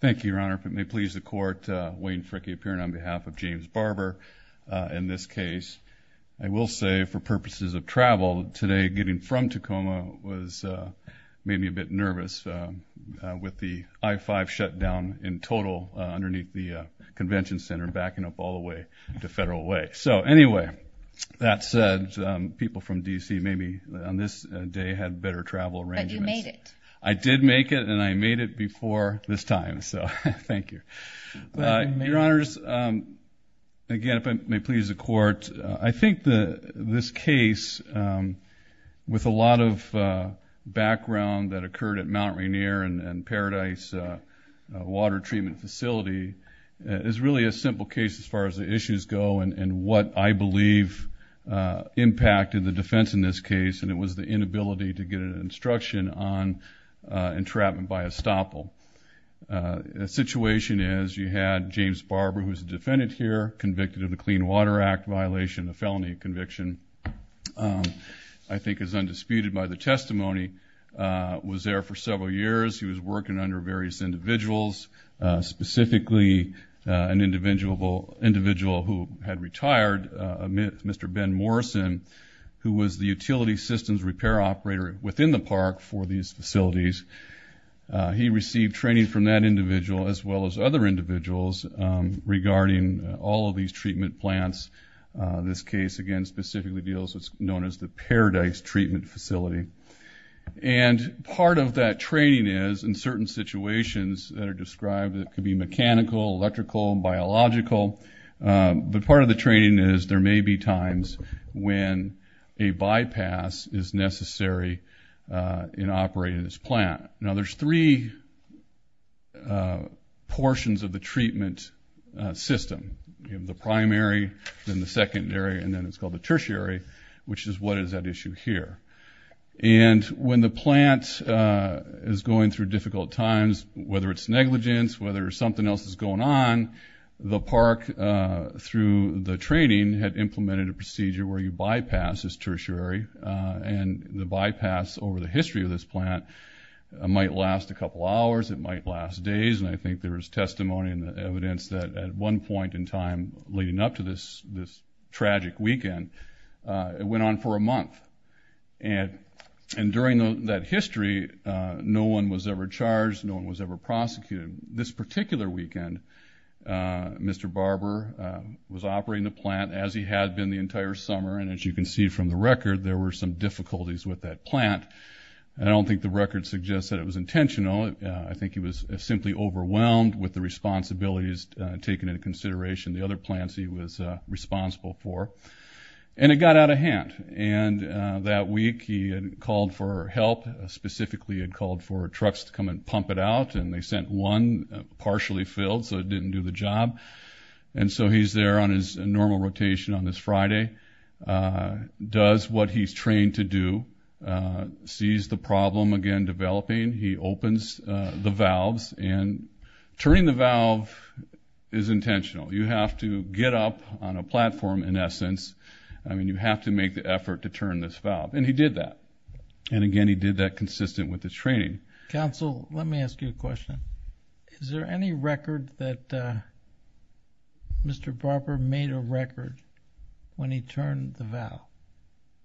Thank you, Your Honor. If it may please the Court, Wayne Fricke, appearing on behalf of James Barber in this case. I will say, for purposes of travel today, getting from Tacoma made me a bit nervous, with the I-5 shutdown in total underneath the convention center, backing up all the way to Federal Way. So anyway, that said, people from D.C. maybe on this day had better travel arrangements. But you made it. I did make it, and I made it before this time, so thank you. Your Honors, again, if it may please the Court, I think this case, with a lot of background that occurred at Mount Rainier and Paradise Water Treatment Facility, is really a simple case as far as the issues go and what I believe impacted the defense in this case, and it was the inability to get an instruction on entrapment by estoppel. The situation is you had James Barber, who is a defendant here, convicted of the Clean Water Act violation, a felony conviction, I think is undisputed by the testimony, was there for several years. He was working under various individuals, specifically an individual who had retired, Mr. Ben Morrison, who was the utility systems repair operator within the park for these facilities. He received training from that individual as well as other individuals regarding all of these treatment plants. This case, again, specifically deals with what's known as the Paradise Treatment Facility. And part of that training is, in certain situations that are described, it could be mechanical, electrical, biological, but part of the training is there may be times when a bypass is necessary in operating this plant. Now, there's three portions of the treatment system. You have the primary, then the secondary, and then it's called the tertiary, which is what is at issue here. And when the plant is going through difficult times, whether it's negligence, whether something else is going on, the park, through the training, had implemented a procedure where you bypass this tertiary, and the bypass over the history of this plant might last a couple hours, it might last days, and I think there is testimony in the evidence that at one point in time leading up to this tragic weekend, it went on for a month. And during that history, no one was ever charged, no one was ever prosecuted. This particular weekend, Mr. Barber was operating the plant as he had been the entire summer, and as you can see from the record, there were some difficulties with that plant. I don't think the record suggests that it was intentional. I think he was simply overwhelmed with the responsibilities taken into consideration, the other plants he was responsible for. And it got out of hand, and that week he had called for help. Specifically, he had called for trucks to come and pump it out, and they sent one partially filled, so it didn't do the job. And so he's there on his normal rotation on this Friday, does what he's trained to do, sees the problem again developing. He opens the valves, and turning the valve is intentional. You have to get up on a platform, in essence. I mean, you have to make the effort to turn this valve. And he did that. And again, he did that consistent with the training. Counsel, let me ask you a question. Is there any record that Mr. Barber made a record when he turned the valve?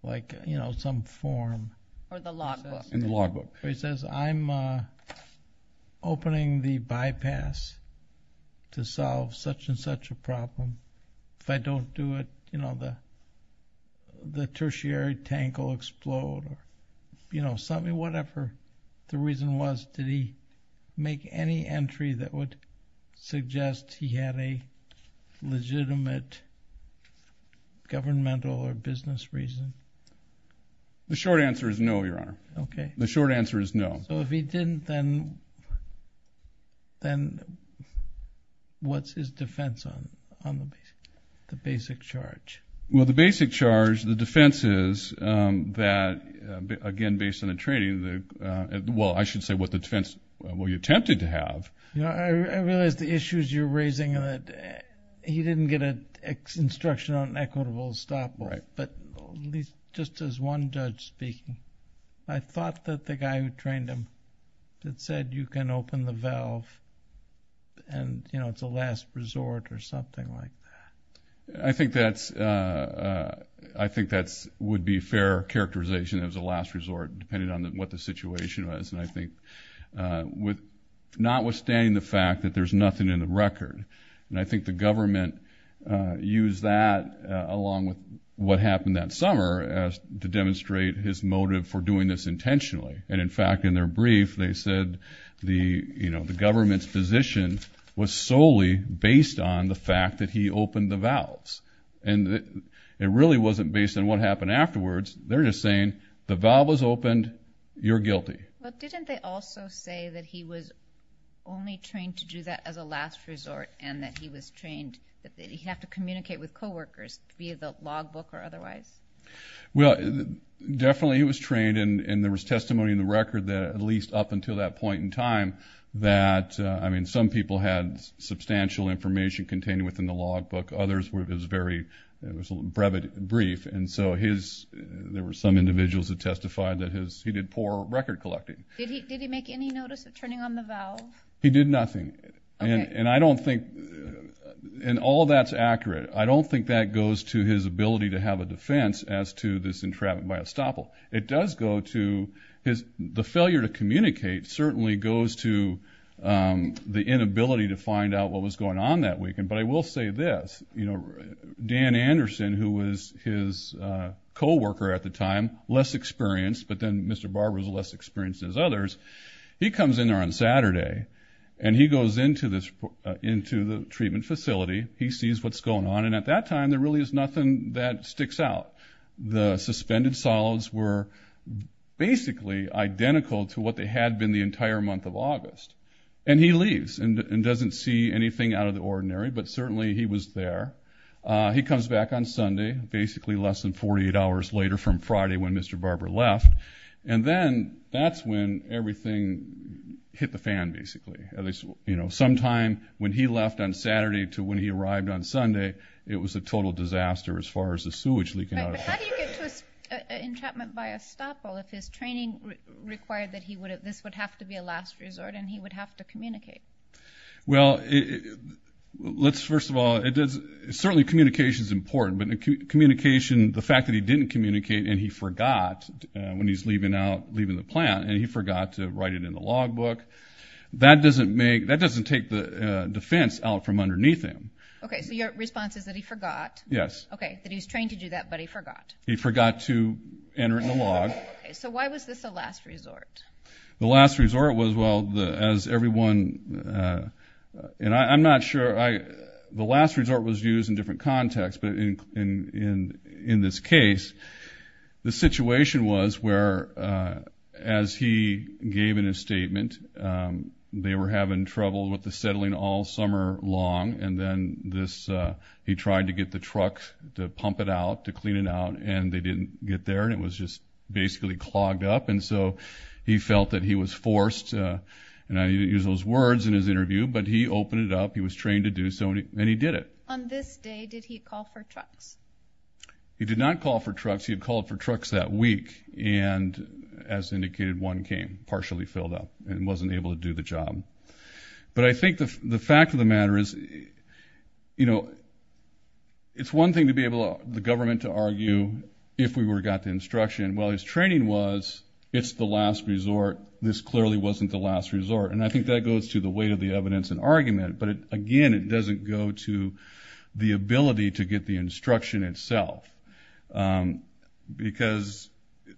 Like, you know, some form. Or the logbook. In the logbook. He says, I'm opening the bypass to solve such and such a problem. If I don't do it, you know, the tertiary tank will explode. You know, whatever the reason was, did he make any entry that would suggest he had a legitimate governmental or business reason? The short answer is no, Your Honor. Okay. The short answer is no. So if he didn't, then what's his defense on the basic charge? Well, the basic charge, the defense is that, again, based on the training, well, I should say what the defense we attempted to have. I realize the issues you're raising, he didn't get an instruction on equitable stop. Right. But just as one judge speaking, I thought that the guy who trained him had said you can open the valve and, you know, it's a last resort or something like that. I think that would be fair characterization as a last resort depending on what the situation was. And I think notwithstanding the fact that there's nothing in the record, and I think the government used that along with what happened that summer to demonstrate his motive for doing this intentionally. And, in fact, in their brief they said the government's position was solely based on the fact that he opened the valves. And it really wasn't based on what happened afterwards. Well, didn't they also say that he was only trained to do that as a last resort and that he was trained that he'd have to communicate with coworkers via the logbook or otherwise? Well, definitely he was trained, and there was testimony in the record that, at least up until that point in time, that, I mean, some people had substantial information contained within the logbook. Others were just very brief. And so there were some individuals that testified that he did poor record collecting. Did he make any notice of turning on the valve? He did nothing. Okay. And I don't think, and all that's accurate, I don't think that goes to his ability to have a defense as to this entrapment by estoppel. It does go to his, the failure to communicate certainly goes to the inability to find out what was going on that weekend. But I will say this, you know, Dan Anderson, who was his coworker at the time, less experienced, but then Mr. Barber was less experienced than his others, he comes in there on Saturday and he goes into the treatment facility. He sees what's going on, and at that time there really is nothing that sticks out. The suspended solids were basically identical to what they had been the entire month of August. And he leaves and doesn't see anything out of the ordinary, but certainly he was there. He comes back on Sunday, basically less than 48 hours later from Friday when Mr. Barber left, and then that's when everything hit the fan, basically. You know, sometime when he left on Saturday to when he arrived on Sunday, it was a total disaster as far as the sewage leaking out. But how do you get to an entrapment by estoppel if his training required that this would have to be a last resort and he would have to communicate? Well, let's first of all, certainly communication is important, but the fact that he didn't communicate and he forgot when he's leaving the plant and he forgot to write it in the log book, that doesn't take the defense out from underneath him. Okay, so your response is that he forgot. Yes. Okay, that he was trained to do that but he forgot. He forgot to enter in the log. Okay, so why was this a last resort? The last resort was, well, as everyone, and I'm not sure, the last resort was used in different contexts, but in this case, the situation was where, as he gave in his statement, they were having trouble with the settling all summer long, and then he tried to get the truck to pump it out, to clean it out, and they didn't get there, and it was just basically clogged up. And so he felt that he was forced, and I didn't use those words in his interview, but he opened it up, he was trained to do so, and he did it. On this day, did he call for trucks? He did not call for trucks. He had called for trucks that week, and as indicated, one came partially filled up and wasn't able to do the job. But I think the fact of the matter is, you know, it's one thing to be able to allow the government to argue, if we got the instruction, well, his training was, it's the last resort, this clearly wasn't the last resort, and I think that goes to the weight of the evidence and argument, but, again, it doesn't go to the ability to get the instruction itself. Because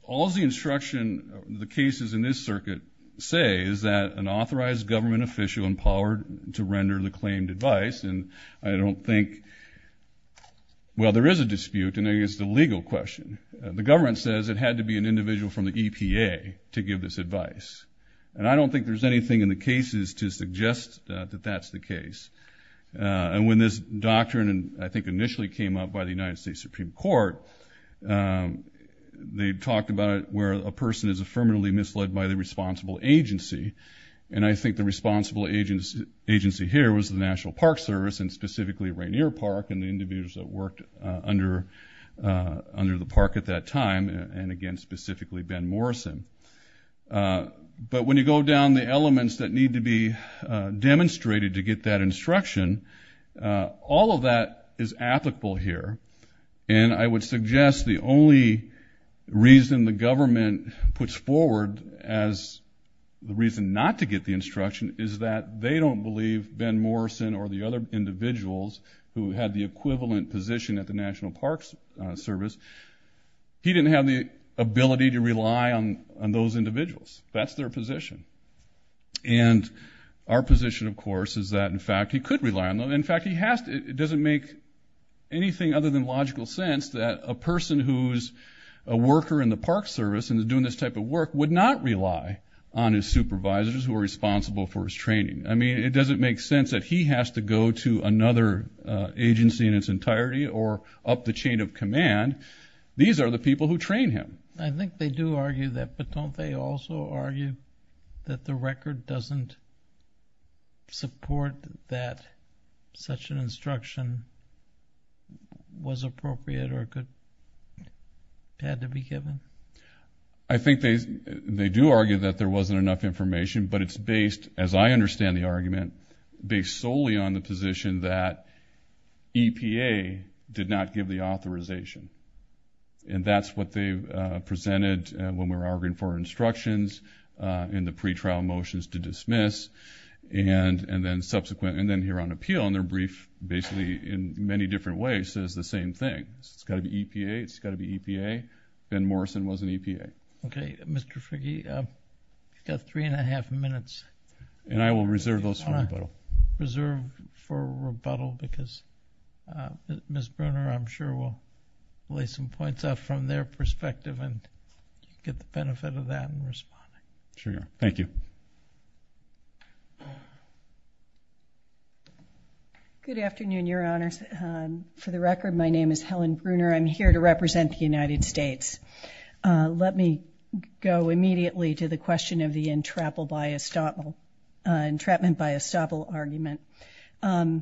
all the instruction, the cases in this circuit say, is that an authorized government official empowered to render the claimed advice, and I don't think, well, there is a dispute, and there is the legal question. The government says it had to be an individual from the EPA to give this advice, and I don't think there's anything in the cases to suggest that that's the case. And when this doctrine, I think, initially came up by the United States Supreme Court, they talked about it where a person is affirmatively misled by the responsible agency, and I think the responsible agency here was the National Park Service and specifically Rainier Park and the individuals that worked under the park at that time, and, again, specifically Ben Morrison. But when you go down the elements that need to be demonstrated to get that instruction, all of that is applicable here, and I would suggest the only reason the government puts forward as the reason not to get the instruction is that they don't believe Ben Morrison or the other individuals who had the equivalent position at the National Park Service, he didn't have the ability to rely on those individuals. That's their position. And our position, of course, is that, in fact, he could rely on them. In fact, it doesn't make anything other than logical sense that a person who is a worker in the park service and is doing this type of work would not rely on his supervisors who are responsible for his training. I mean, it doesn't make sense that he has to go to another agency in its entirety or up the chain of command. These are the people who train him. I think they do argue that, but don't they also argue that the record doesn't support that such an instruction was appropriate or had to be given? I think they do argue that there wasn't enough information, but it's based, as I understand the argument, based solely on the position that EPA did not give the authorization. And that's what they presented when we were arguing for instructions in the pretrial motions to dismiss. And then here on appeal in their brief, basically in many different ways, it says the same thing. It's got to be EPA. It's got to be EPA. Ben Morrison was an EPA. Okay. Mr. Fricke, you've got three and a half minutes. And I will reserve those for rebuttal. Reserve for rebuttal because Ms. Bruner, I'm sure, will lay some points out from their perspective and get the benefit of that in responding. Sure. Thank you. Good afternoon, Your Honors. For the record, my name is Helen Bruner. I'm here to represent the United States. Let me go immediately to the question of the entrapment by estoppel argument. Rather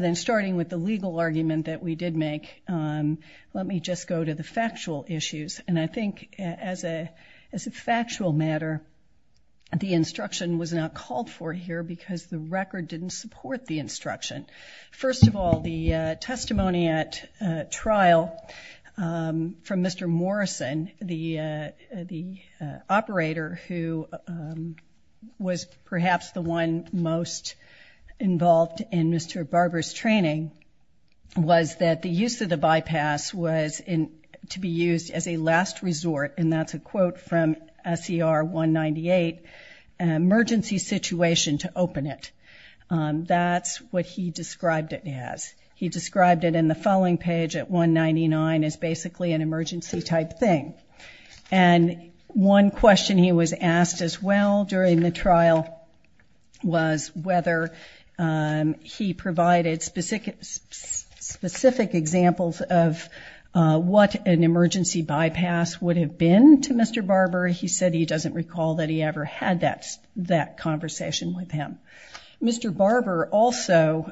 than starting with the legal argument that we did make, let me just go to the factual issues. And I think as a factual matter, the instruction was not called for here because the record didn't support the instruction. First of all, the testimony at trial from Mr. Morrison, the operator who was perhaps the one most involved in Mr. Barber's training, was that the use of the bypass was to be used as a last resort, and that's a quote from SCR 198, an emergency situation to open it. That's what he described it as. He described it in the following page at 199 as basically an emergency type thing. And one question he was asked as well during the trial was whether he provided specific examples of what an emergency bypass would have been to Mr. Barber. He said he doesn't recall that he ever had that conversation with him. Mr. Barber also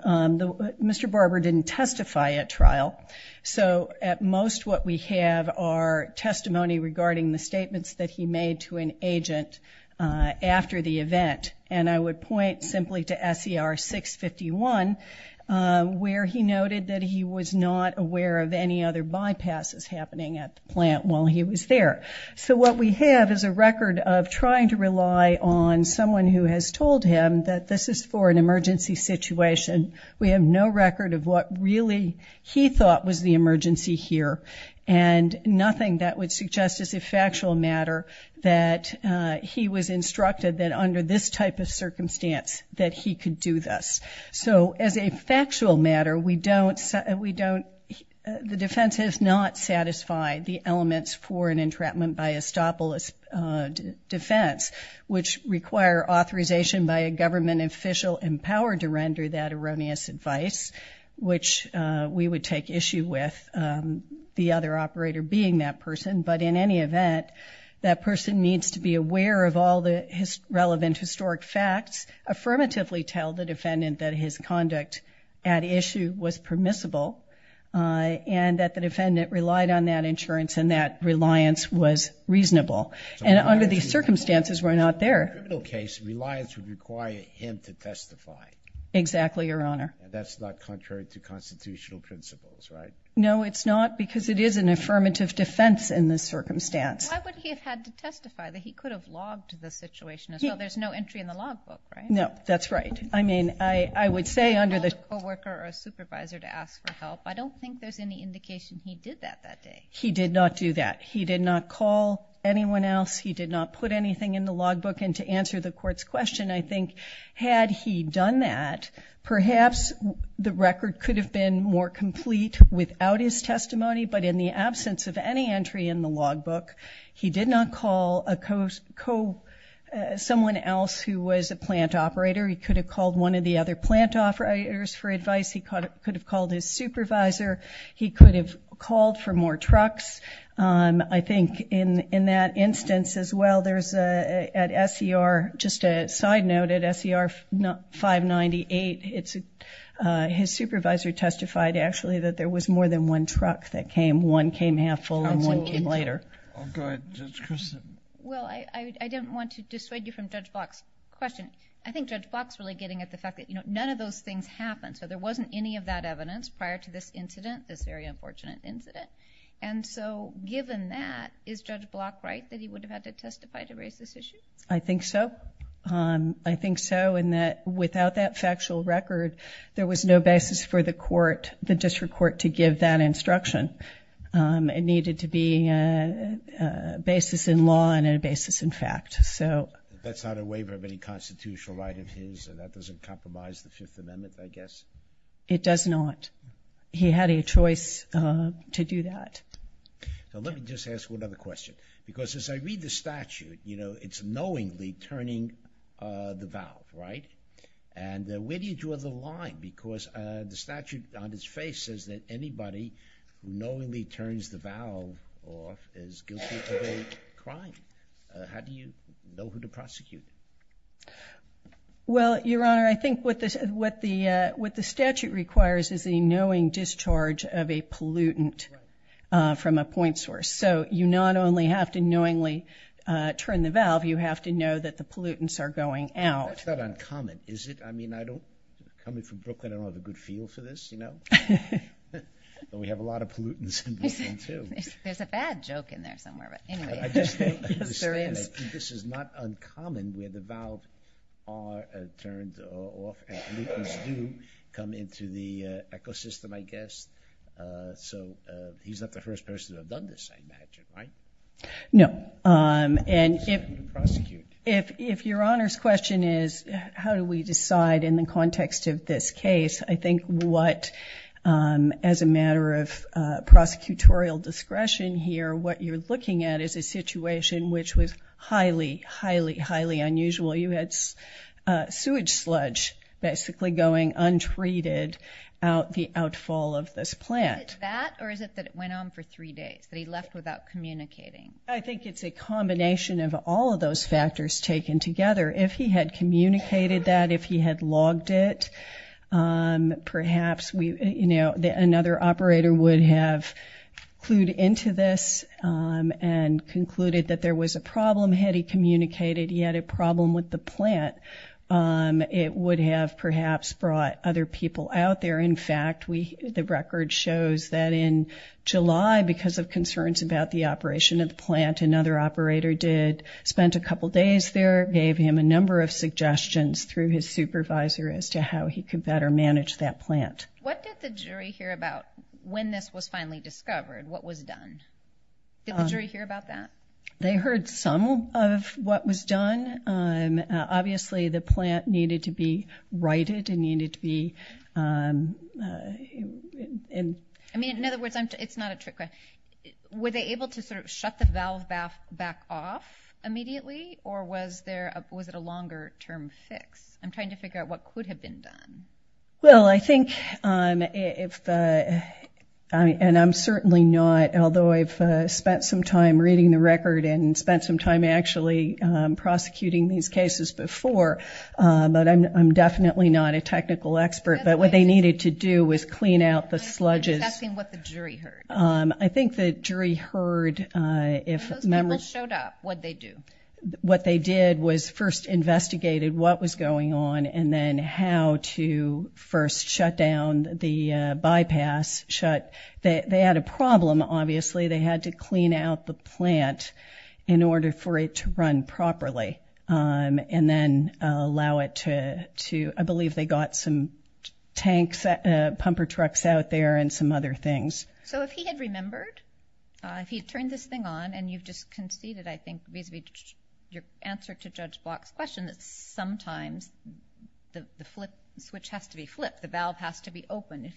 didn't testify at trial, so at most what we have are testimony regarding the statements that he made to an agent after the event. And I would point simply to SCR 651, where he noted that he was not aware of any other bypasses happening at the plant while he was there. So what we have is a record of trying to rely on someone who has told him that this is for an emergency situation. We have no record of what really he thought was the emergency here, and nothing that would suggest as a factual matter that he was instructed that under this type of circumstance that he could do this. So as a factual matter, the defense has not satisfied the elements for an entrapment by estopolis defense, which require authorization by a government official empowered to render that erroneous advice, which we would take issue with the other operator being that person. But in any event, that person needs to be aware of all the relevant historic facts, affirmatively tell the defendant that his conduct at issue was permissible, and that the defendant relied on that insurance and that reliance was reasonable. And under these circumstances, we're not there. In a criminal case, reliance would require him to testify. Exactly, Your Honor. That's not contrary to constitutional principles, right? No, it's not, because it is an affirmative defense in this circumstance. Why would he have had to testify? He could have logged the situation as well. There's no entry in the logbook, right? No, that's right. I mean, I would say under the... He called a co-worker or a supervisor to ask for help. I don't think there's any indication he did that that day. He did not do that. He did not call anyone else. He did not put anything in the logbook. And to answer the Court's question, I think had he done that, perhaps the record could have been more complete without his testimony, but in the absence of any entry in the logbook, he did not call someone else who was a plant operator. He could have called one of the other plant operators for advice. He could have called his supervisor. He could have called for more trucks. I think in that instance as well, there's at SER, just a side note, at SER 598, his supervisor testified, actually, that there was more than one truck that came. One came half full and one came later. Absolutely. Go ahead, Judge Christin. Well, I didn't want to dissuade you from Judge Block's question. I think Judge Block's really getting at the fact that none of those things happened, so there wasn't any of that evidence prior to this incident, this very unfortunate incident. And so given that, is Judge Block right that he would have had to testify to raise this issue? I think so. I think so in that without that factual record, there was no basis for the District Court to give that instruction. It needed to be a basis in law and a basis in fact. That's not a waiver of any constitutional right of his? That doesn't compromise the Fifth Amendment, I guess? It does not. He had a choice to do that. Let me just ask one other question, because as I read the statute, you know, it's knowingly turning the valve, right? And where do you draw the line? Because the statute on its face says that anybody who knowingly turns the valve off is guilty of a crime. How do you know who to prosecute? Well, Your Honor, I think what the statute requires is a knowing discharge of a pollutant from a point source. So you not only have to knowingly turn the valve, you have to know that the pollutants are going out. That's not uncommon, is it? I mean, coming from Brooklyn, I don't have a good feel for this, you know? But we have a lot of pollutants in Brooklyn, too. There's a bad joke in there somewhere, but anyway. I just think this is not uncommon where the valve are turned off and pollutants do come into the ecosystem, I guess. So he's not the first person to have done this, I imagine, right? No. And if Your Honor's question is how do we decide in the context of this case, I think what, as a matter of prosecutorial discretion here, what you're looking at is a situation which was highly, highly, highly unusual. You had sewage sludge basically going untreated out the outfall of this plant. Is it that or is it that it went on for three days, that he left without communicating? I think it's a combination of all of those factors taken together. If he had communicated that, if he had logged it, perhaps another operator would have clued into this and concluded that there was a problem. Had he communicated he had a problem with the plant, it would have perhaps brought other people out there. In fact, the record shows that in July, because of concerns about the operation of the plant, another operator spent a couple days there, gave him a number of suggestions through his supervisor as to how he could better manage that plant. What did the jury hear about when this was finally discovered, what was done? Did the jury hear about that? They heard some of what was done. Obviously, the plant needed to be righted and needed to be... I mean, in other words, it's not a trick question. Were they able to sort of shut the valve back off immediately, or was it a longer-term fix? I'm trying to figure out what could have been done. Well, I think, and I'm certainly not, although I've spent some time reading the record and spent some time actually prosecuting these cases before, but I'm definitely not a technical expert. But what they needed to do was clean out the sludges. I'm just asking what the jury heard. I think the jury heard... When those people showed up, what'd they do? What they did was first investigated what was going on and then how to first shut down the bypass. They had a problem, obviously. They had to clean out the plant in order for it to run properly and then allow it to... I believe they got some tanks, pumper trucks out there, and some other things. So if he had remembered, if he had turned this thing on, and you've just conceded, I think, vis-à-vis your answer to Judge Block's question, that sometimes the switch has to be flipped, the valve has to be opened,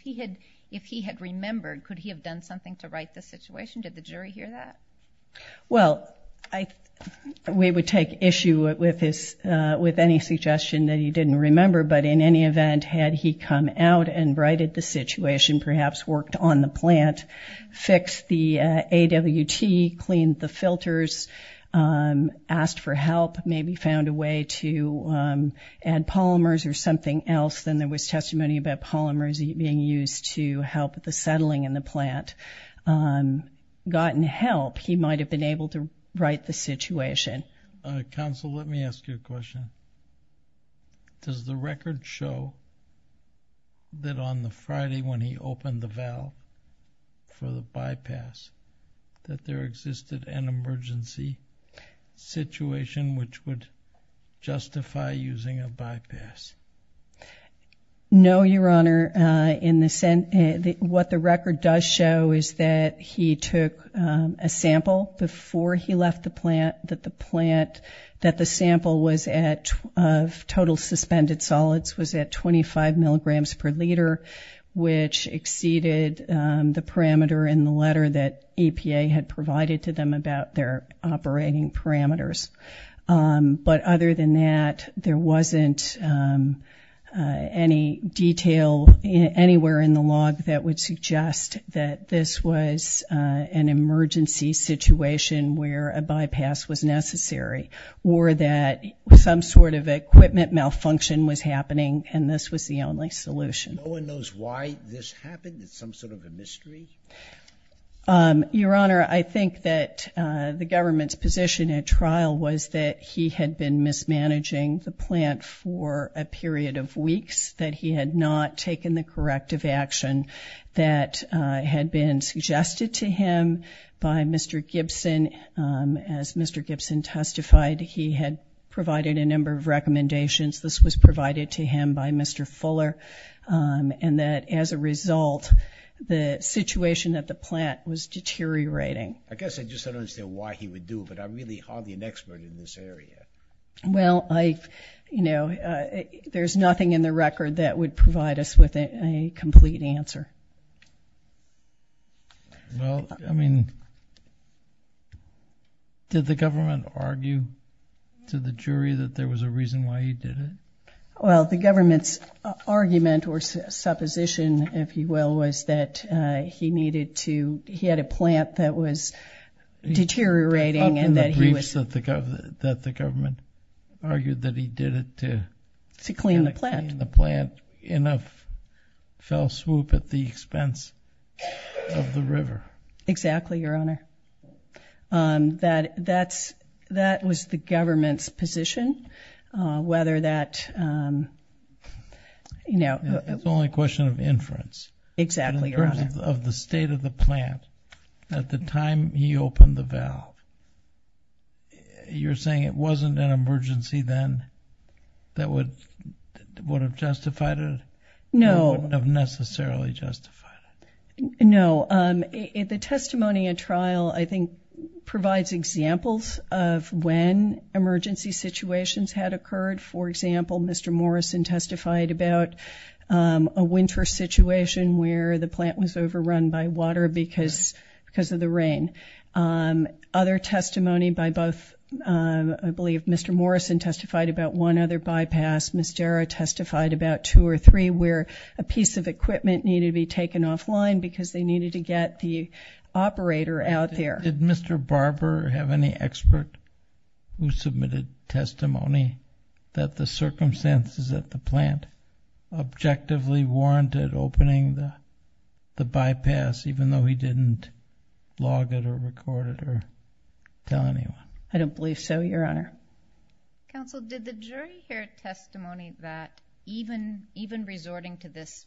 if he had remembered, could he have done something to right the situation? Did the jury hear that? Well, we would take issue with any suggestion that he didn't remember, but in any event, had he come out and righted the situation, perhaps worked on the plant, fixed the AWT, cleaned the filters, asked for help, maybe found a way to add polymers or something else than there was testimony about polymers being used to help the settling in the plant, gotten help, he might have been able to right the situation. Counsel, let me ask you a question. Does the record show that on the Friday when he opened the valve for the bypass that there existed an emergency situation which would justify using a bypass? No, Your Honor. What the record does show is that he took a sample before he left the plant, that the sample of total suspended solids was at 25 milligrams per liter, which exceeded the parameter in the letter that EPA had provided to them about their operating parameters. But other than that, there wasn't any detail anywhere in the log that would suggest that this was an emergency situation where a bypass was necessary or that some sort of equipment malfunction was happening and this was the only solution. No one knows why this happened? It's some sort of a mystery? Your Honor, I think that the government's position at trial was that he had not taken the corrective action that had been suggested to him by Mr. Gibson. As Mr. Gibson testified, he had provided a number of recommendations. This was provided to him by Mr. Fuller, and that as a result the situation at the plant was deteriorating. I guess I just don't understand why he would do it, but I'm really hardly an expert in this area. Well, there's nothing in the record that would provide us with a complete answer. Did the government argue to the jury that there was a reason why he did it? Well, the government's argument or supposition, if you will, was that he had a plant that was deteriorating. In the briefs that the government argued that he did it to clean the plant, enough fell swoop at the expense of the river. Exactly, Your Honor. That was the government's position. It's only a question of inference. Exactly, Your Honor. In terms of the state of the plant, at the time he opened the valve, you're saying it wasn't an emergency then that would have justified it? No. It wouldn't have necessarily justified it. No. The testimony at trial, I think, provides examples of when emergency situations had occurred. For example, Mr. Morrison testified about a winter situation where the plant was overrun by water because of the rain. Other testimony by both, I believe Mr. Morrison testified about one other bypass. Ms. Jarrah testified about two or three where a piece of equipment needed to be taken offline because they needed to get the operator out there. Did Mr. Barber have any expert who submitted testimony that the circumstances at the plant objectively warranted opening the bypass even though he didn't log it or record it or tell anyone? I don't believe so, Your Honor. Counsel, did the jury hear testimony that even resorting to this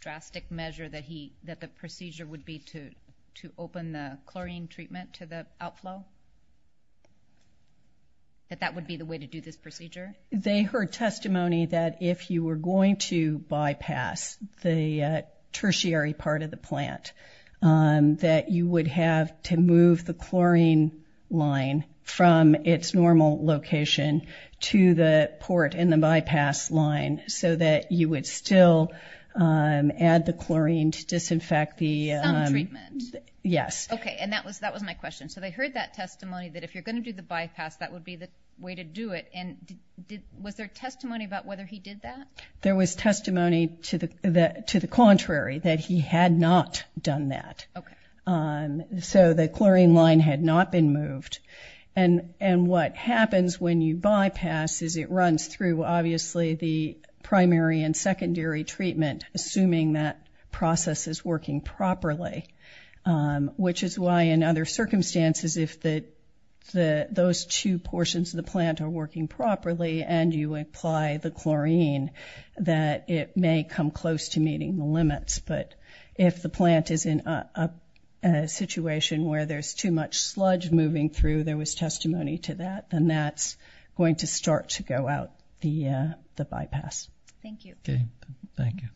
drastic measure that the procedure would be to open the chlorine treatment to the outflow, that that would be the way to do this procedure? They heard testimony that if you were going to bypass the tertiary part of the plant, that you would have to move the chlorine line from its normal location to the port in the bypass line so that you would still add the chlorine to disinfect the— Some treatment. Yes. Okay, and that was my question. So they heard that testimony that if you're going to do the bypass, that would be the way to do it. And was there testimony about whether he did that? There was testimony to the contrary, that he had not done that. Okay. So the chlorine line had not been moved. And what happens when you bypass is it runs through, obviously, the primary and secondary treatment, assuming that process is working properly, which is why in other circumstances, if those two portions of the plant are working properly and you apply the chlorine, but if the plant is in a situation where there's too much sludge moving through, there was testimony to that, then that's going to start to go out the bypass. Thank you. Okay, thank you.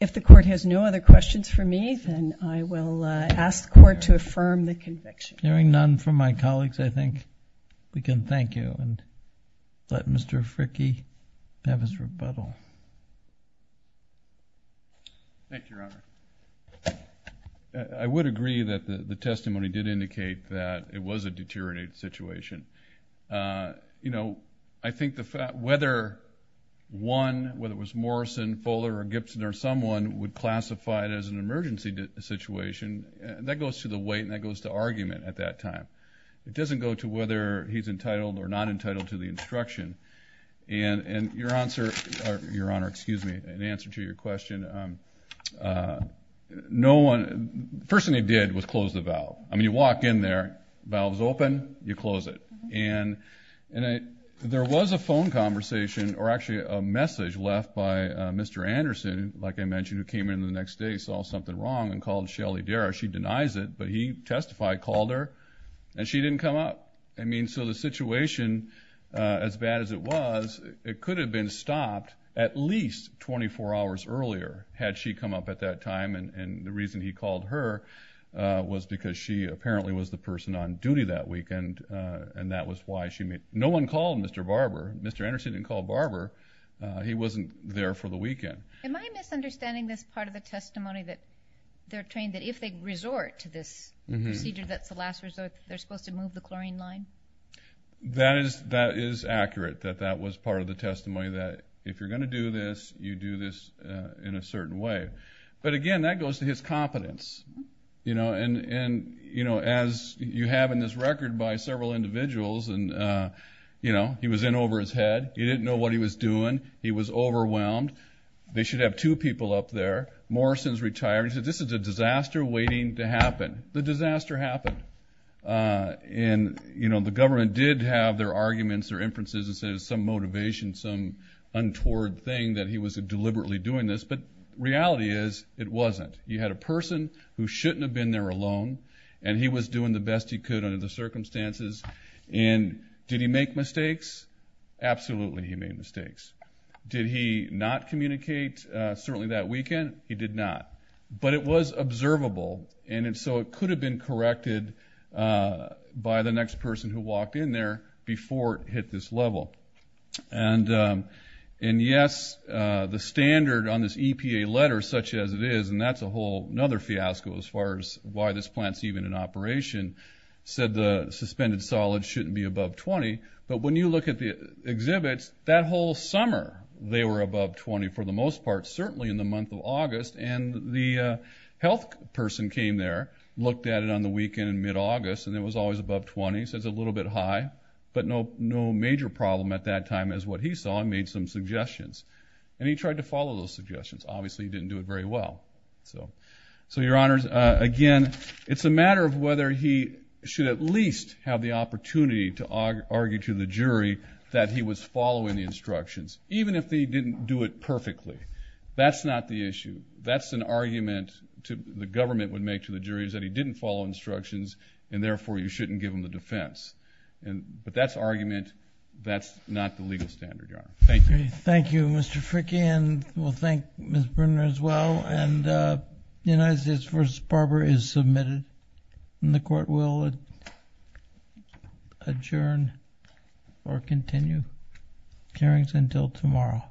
If the Court has no other questions for me, then I will ask the Court to affirm the conviction. Hearing none from my colleagues, I think we can thank you and let Mr. Fricke have his rebuttal. Thank you, Your Honor. I would agree that the testimony did indicate that it was a deteriorating situation. You know, I think whether one, whether it was Morrison, Fuller, or Gibson, or someone would classify it as an emergency situation, that goes to the weight and that goes to argument at that time. It doesn't go to whether he's entitled or not entitled to the instruction. And your answer, Your Honor, excuse me, in answer to your question, the first thing he did was close the valve. I mean, you walk in there, valve's open, you close it. And there was a phone conversation, or actually a message left by Mr. Anderson, like I mentioned, who came in the next day, saw something wrong, and called Shelly Darra. She denies it, but he testified, called her, and she didn't come up. I mean, so the situation, as bad as it was, it could have been stopped at least 24 hours earlier had she come up at that time. And the reason he called her was because she apparently was the person on duty that weekend, and that was why she made, no one called Mr. Barber. Mr. Anderson didn't call Barber. He wasn't there for the weekend. Am I misunderstanding this part of the testimony that they're saying that if they resort to this procedure that's the last resort, they're supposed to move the chlorine line? That is accurate, that that was part of the testimony, that if you're going to do this, you do this in a certain way. But again, that goes to his competence. And as you have in this record by several individuals, he was in over his head. He didn't know what he was doing. He was overwhelmed. They should have two people up there. Morrison's retiring. He said, this is a disaster waiting to happen. The disaster happened. And, you know, the government did have their arguments, their inferences, and said it was some motivation, some untoward thing that he was deliberately doing this. But the reality is it wasn't. He had a person who shouldn't have been there alone, and he was doing the best he could under the circumstances. And did he make mistakes? Absolutely he made mistakes. Did he not communicate certainly that weekend? He did not. But it was observable, and so it could have been corrected by the next person who walked in there before it hit this level. And, yes, the standard on this EPA letter, such as it is, and that's a whole other fiasco as far as why this plant's even in operation, said the suspended solids shouldn't be above 20. But when you look at the exhibits, that whole summer they were above 20 for the most part, certainly in the month of August. And the health person came there, looked at it on the weekend in mid-August, and it was always above 20, so it's a little bit high, but no major problem at that time is what he saw and made some suggestions. And he tried to follow those suggestions. Obviously he didn't do it very well. So, Your Honors, again, it's a matter of whether he should at least have the opportunity to argue to the jury that he was following the instructions, even if he didn't do it perfectly. That's not the issue. That's an argument the government would make to the jury is that he didn't follow instructions, and therefore you shouldn't give him the defense. But that's argument. That's not the legal standard, Your Honor. Thank you. Thank you, Mr. Fricke, and we'll thank Ms. Brunner as well. And the United States v. Barber is submitted. And the Court will adjourn or continue hearings until tomorrow.